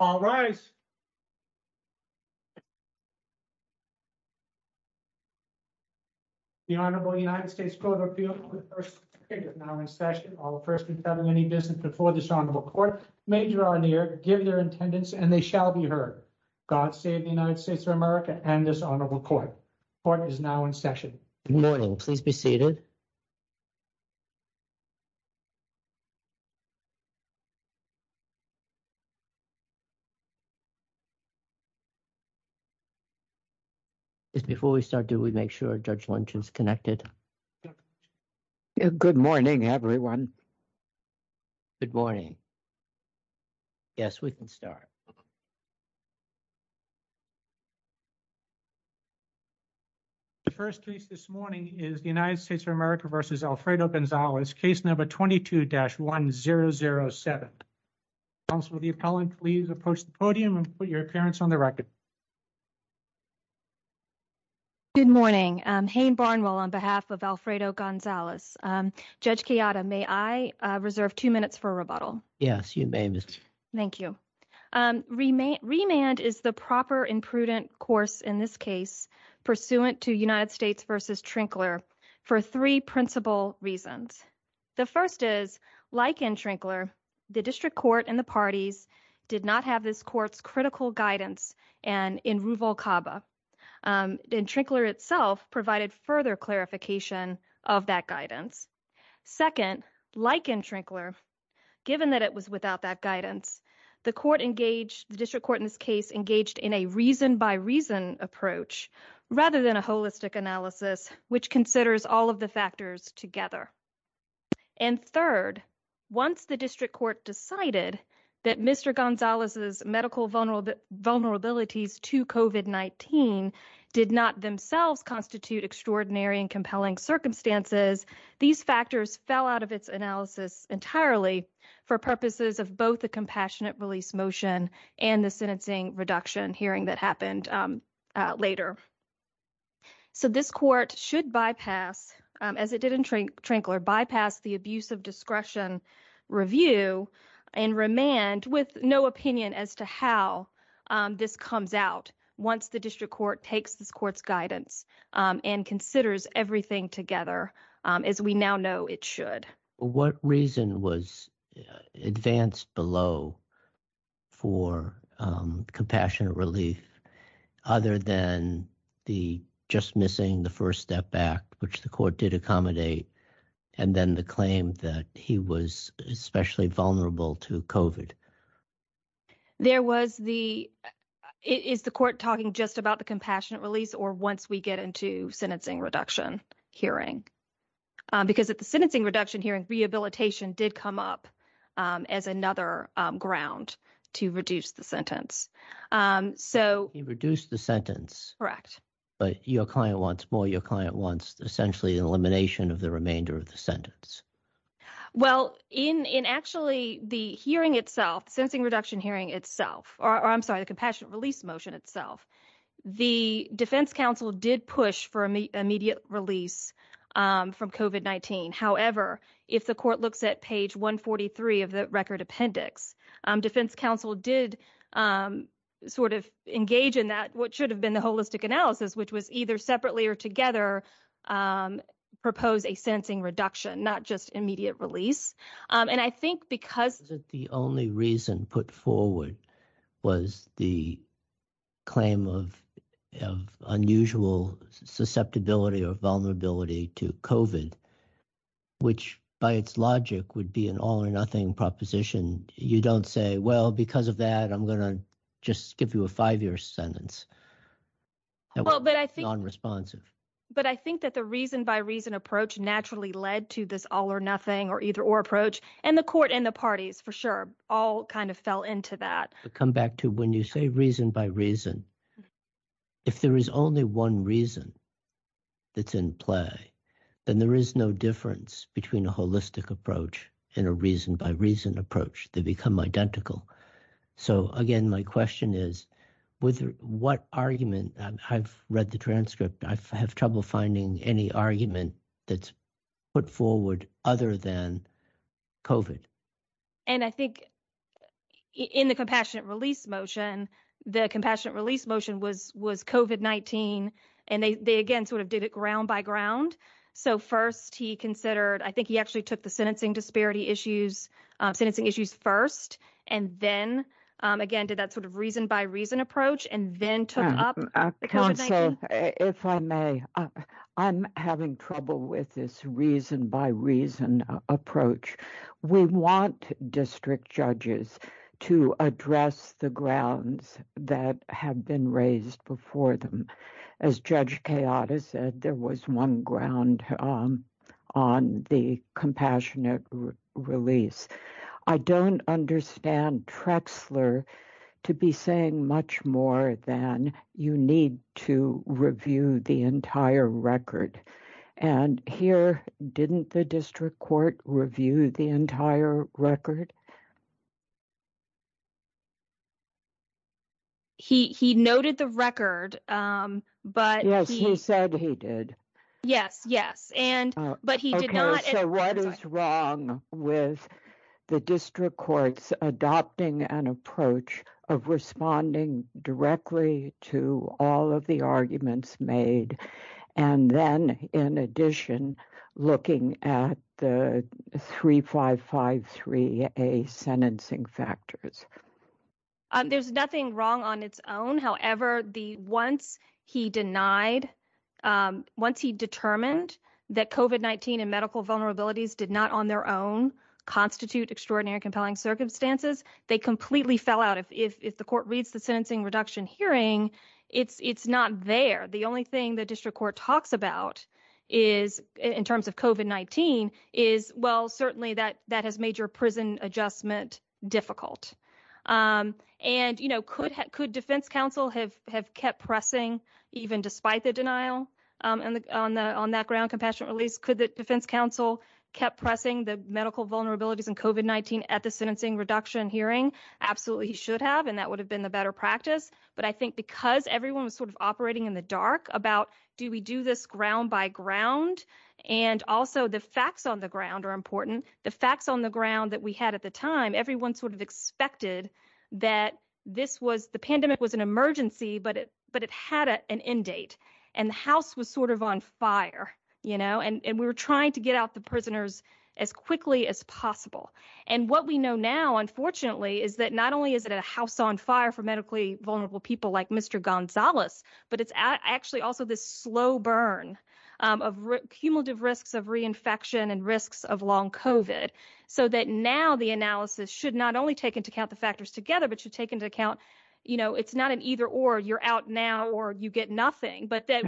All rise. The Honorable United States Court of Appeals for the first time is now in session. All first impelling any business before this Honorable Court, major or near, give their attendance and they shall be heard. God save the United States of America and this Honorable Court. Court is now in session. Good morning. Please be seated. Before we start, do we make sure Judge Lynch is connected? Good morning, everyone. Good morning. Yes, we can start. The first case this morning is the United States of America versus Alfredo Gonzalez, case number 22-1007. Counselor, the appellant, please approach the podium and put your appearance on the record. Good morning. Hayne Barnwell on behalf of Alfredo Gonzalez. Judge Chiata, may I reserve two minutes for rebuttal? Yes, you may. Thank you. Remand is the proper and prudent course in this case pursuant to United States versus Trinkler for three principal reasons. The first is, like in Trinkler, the district court and the parties did not have this court's critical guidance and in Ruvalcaba. In Trinkler itself provided further clarification of that guidance. Second, like in Trinkler, given that it was without that guidance, the court engaged, the district court in this case engaged in a reason by reason approach rather than a holistic analysis, which considers all of the factors together. And third, once the district court decided that Mr. Gonzalez's medical vulnerabilities to COVID-19 did not themselves constitute extraordinary and compelling circumstances, these factors fell out of its analysis entirely for purposes of both the compassionate release motion and the sentencing reduction hearing that this court should bypass, as it did in Trinkler, bypass the abuse of discretion review and remand with no opinion as to how this comes out once the district court takes this court's guidance and considers everything together as we now know it should. What reason was advanced below for compassionate relief other than the just missing the first step back, which the court did accommodate, and then the claim that he was especially vulnerable to COVID? There was the, is the court talking just about the compassionate release or once we get into sentencing reduction hearing? Because at the sentencing reduction hearing, rehabilitation did come up as another ground to reduce the sentence. So. He reduced the sentence. Correct. But your client wants more. Your client wants essentially an elimination of the remainder of the sentence. Well, in actually the hearing itself, the sentencing reduction hearing itself, or I'm sorry, the compassionate release motion itself, the defense counsel did push for immediate release from COVID-19. However, if the court looks at page 143 of the record appendix, defense counsel did sort of engage in that, what should have been the holistic analysis, which was either separately or together propose a sentencing reduction, not just immediate release. And I think because the only reason put forward was the claim of unusual susceptibility or vulnerability to COVID, which by its logic would be an all or nothing proposition. You don't say, well, because of that, I'm going to just give you a five-year sentence. But I think that the reason by reason approach naturally led to this all or nothing or either and the court and the parties for sure all kind of fell into that. Come back to when you say reason by reason, if there is only one reason that's in play, then there is no difference between a holistic approach and a reason by reason approach. They become identical. So again, my question is with what argument I've read the transcript, I have trouble finding any argument that's put forward other than COVID. And I think in the compassionate release motion, the compassionate release motion was COVID-19. And they, again, sort of did it ground by ground. So first he considered, I think he actually took the sentencing disparity issues, sentencing issues first, and then again, did that sort of reason by reason. I'm having trouble with this reason by reason approach. We want district judges to address the grounds that have been raised before them. As Judge Kayata said, there was one ground on the compassionate release. I don't understand Trexler to be saying much more than you need to review the entire record. And here, didn't the district court review the entire record? He noted the record, but he said he did. Yes, yes. And but he did not. So what is wrong with the district courts adopting an approach of responding directly to all of the arguments made? And then in addition, looking at the 3553A sentencing factors? There's nothing wrong on its own. However, once he denied, once he determined that COVID-19 and vulnerabilities did not on their own constitute extraordinary compelling circumstances, they completely fell out. If the court reads the sentencing reduction hearing, it's not there. The only thing the district court talks about is in terms of COVID-19 is, well, certainly that has made your prison adjustment difficult. And, you know, could defense counsel have kept pressing even despite the denial on that ground compassionate release? Could the defense counsel kept pressing the medical vulnerabilities and COVID-19 at the sentencing reduction hearing? Absolutely, he should have. And that would have been the better practice. But I think because everyone was sort of operating in the dark about do we do this ground by ground? And also the facts on the ground are important. The facts on the ground that we had at the time, everyone sort of expected that the pandemic was an emergency, but it had an end date, and the house was sort of on fire, you know, and we were trying to get out the prisoners as quickly as possible. And what we know now, unfortunately, is that not only is it a house on fire for medically vulnerable people like Mr. Gonzalez, but it's actually also this slow burn of cumulative risks of reinfection and risks of long COVID. So that now the analysis should not only take into account the factors together, but should take into account, you know, it's not an either or you're out now or you get nothing, but that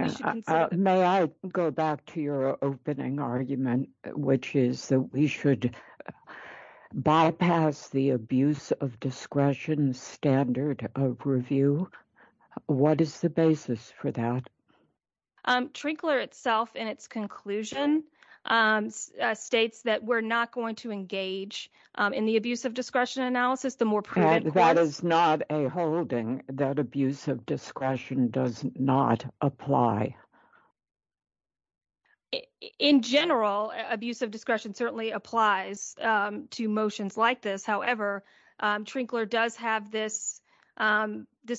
may I go back to your opening argument, which is that we should bypass the abuse of discretion standard of review. What is the basis for that? Trinkler itself in its conclusion states that we're not going to engage in the abuse of discretion analysis, the more preventative. That is not a holding that abuse of discretion does not apply. In general, abuse of discretion certainly applies to motions like this. However, Trinkler does have this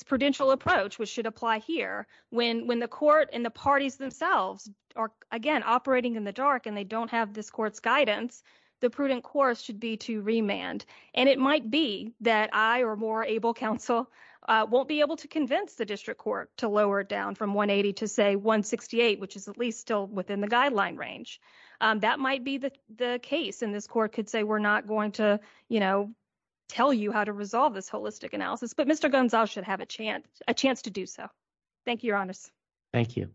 prudential approach, which should apply here. When the court and the parties themselves are again operating in the dark and they don't have this court's guidance, the prudent course should be to remand. And it might be that I or more able counsel won't be able to convince the district court to lower it down from 180 to say 168, which is at least still within the guideline range. That might be the case. And this court could say we're not going to, you know, tell you how to resolve this holistic analysis. But Mr. Gonzalez should have a chance, a chance to do so. Thank you, Your Honor. Thank you.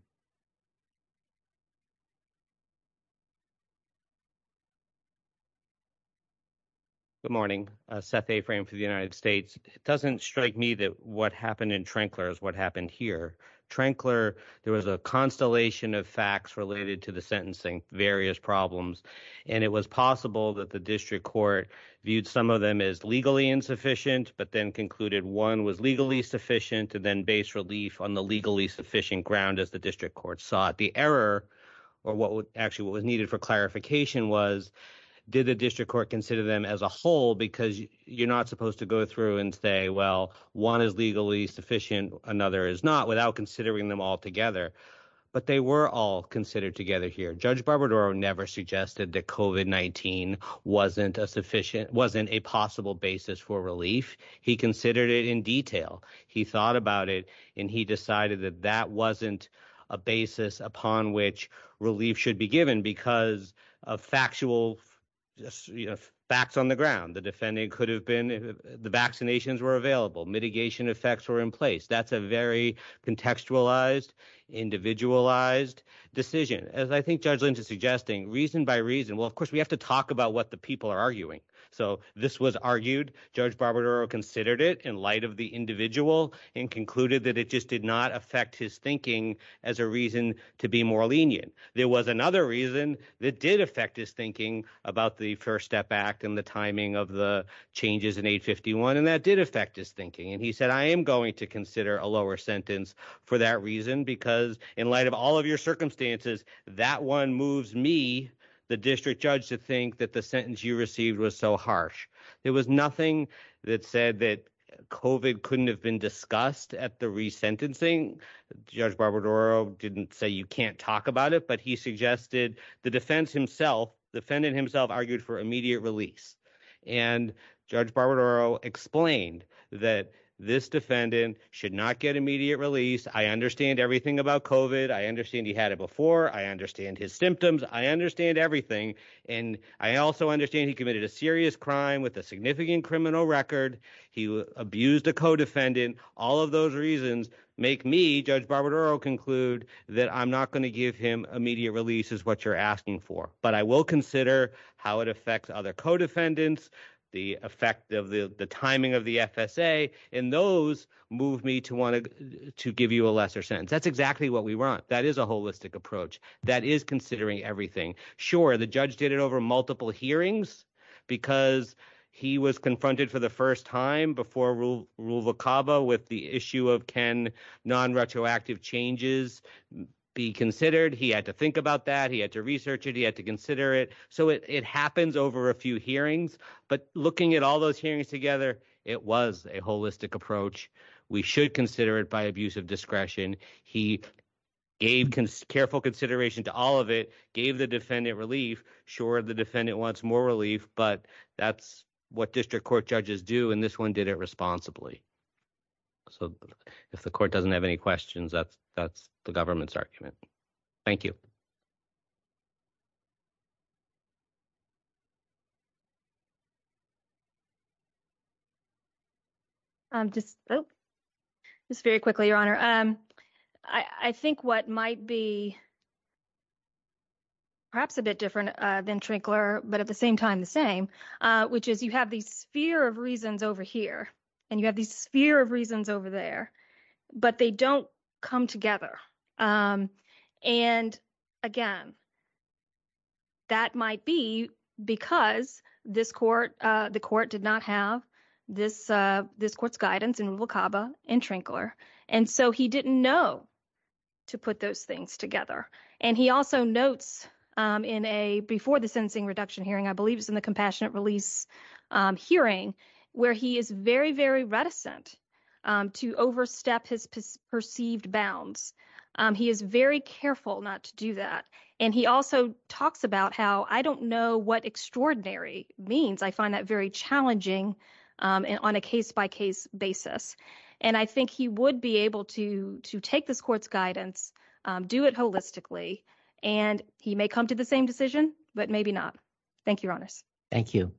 Good morning, Seth A. Frame for the United States. It doesn't strike me that what happened in Trinkler is what happened here. Trinkler, there was a constellation of facts related to the district court, viewed some of them as legally insufficient, but then concluded one was legally sufficient to then base relief on the legally sufficient ground as the district court sought. The error or what actually was needed for clarification was, did the district court consider them as a whole because you're not supposed to go through and say, well, one is legally sufficient, another is not without considering them all together. But they were all considered together here. Judge Barbadaro never suggested that COVID-19 wasn't a sufficient, wasn't a possible basis for relief. He considered it in detail. He thought about it and he decided that that wasn't a basis upon which relief should be given because of factual facts on the ground. The defendant could have been, the vaccinations were available, mitigation effects were in place. That's a very contextualized, individualized decision. As I think Judge Lynch is suggesting, reason by reason, well, of course, we have to talk about what the people are arguing. So this was argued, Judge Barbadaro considered it in light of the individual and concluded that it just did not affect his thinking as a reason to be more lenient. There was another reason that did affect his thinking about the First Step Act and the timing of the changes in 851 and that did affect his thinking. And he said, I am going to consider a lower sentence for that reason because in light of all of your circumstances, that one moves me, the district judge, to think that the sentence you received was so harsh. There was nothing that said that COVID couldn't have been discussed at the resentencing. Judge Barbadaro didn't say you can't talk about it, but he suggested the defense himself, the defendant himself argued for immediate release. And Judge Barbadaro explained that this defendant should not get immediate release. I understand everything about COVID. I understand he had it before. I understand his symptoms. I understand everything. And I also understand he committed a serious crime with a significant criminal record. He abused a co-defendant. All of those reasons make me, Judge Barbadaro, conclude that I'm not going to give him immediate release is what you're asking for. But I will consider how it affects other co-defendants, the effect of the timing of the FSA, and those move me to want to give you a lesser sentence. That's exactly what we want. That is a holistic approach. That is considering everything. Sure, the judge did it over multiple hearings because he was confronted for the first time before Rule of Cava with the issue of can non-retroactive changes be considered. He had to think about that. He had to research it. He had to consider it. So it happens over a few hearings. But looking at all those hearings together, it was a holistic approach. We should consider it by abuse of discretion. He gave careful consideration to all of it, gave the defendant relief. Sure, the defendant wants more relief, but that's what district court judges do, and this one did it responsibly. So if the court doesn't have any questions, that's the government's argument. Thank you. Just very quickly, Your Honor. I think what might be perhaps a bit different than Trinkler, but at the same time the same, which is you have these sphere of reasons over here, and you have these sphere of reasons over there, but they don't come together. Again, that might be because the court did not have this court's guidance in Rule of Cava and Trinkler, and so he didn't know to put those together. And he also notes in a before the sentencing reduction hearing, I believe it's in the compassionate release hearing, where he is very, very reticent to overstep his perceived bounds. He is very careful not to do that. And he also talks about how, I don't know what extraordinary means. I find that very challenging on a case-by-case basis. And I think he would be to take this court's guidance, do it holistically, and he may come to the same decision, but maybe not. Thank you, Your Honor. Thank you.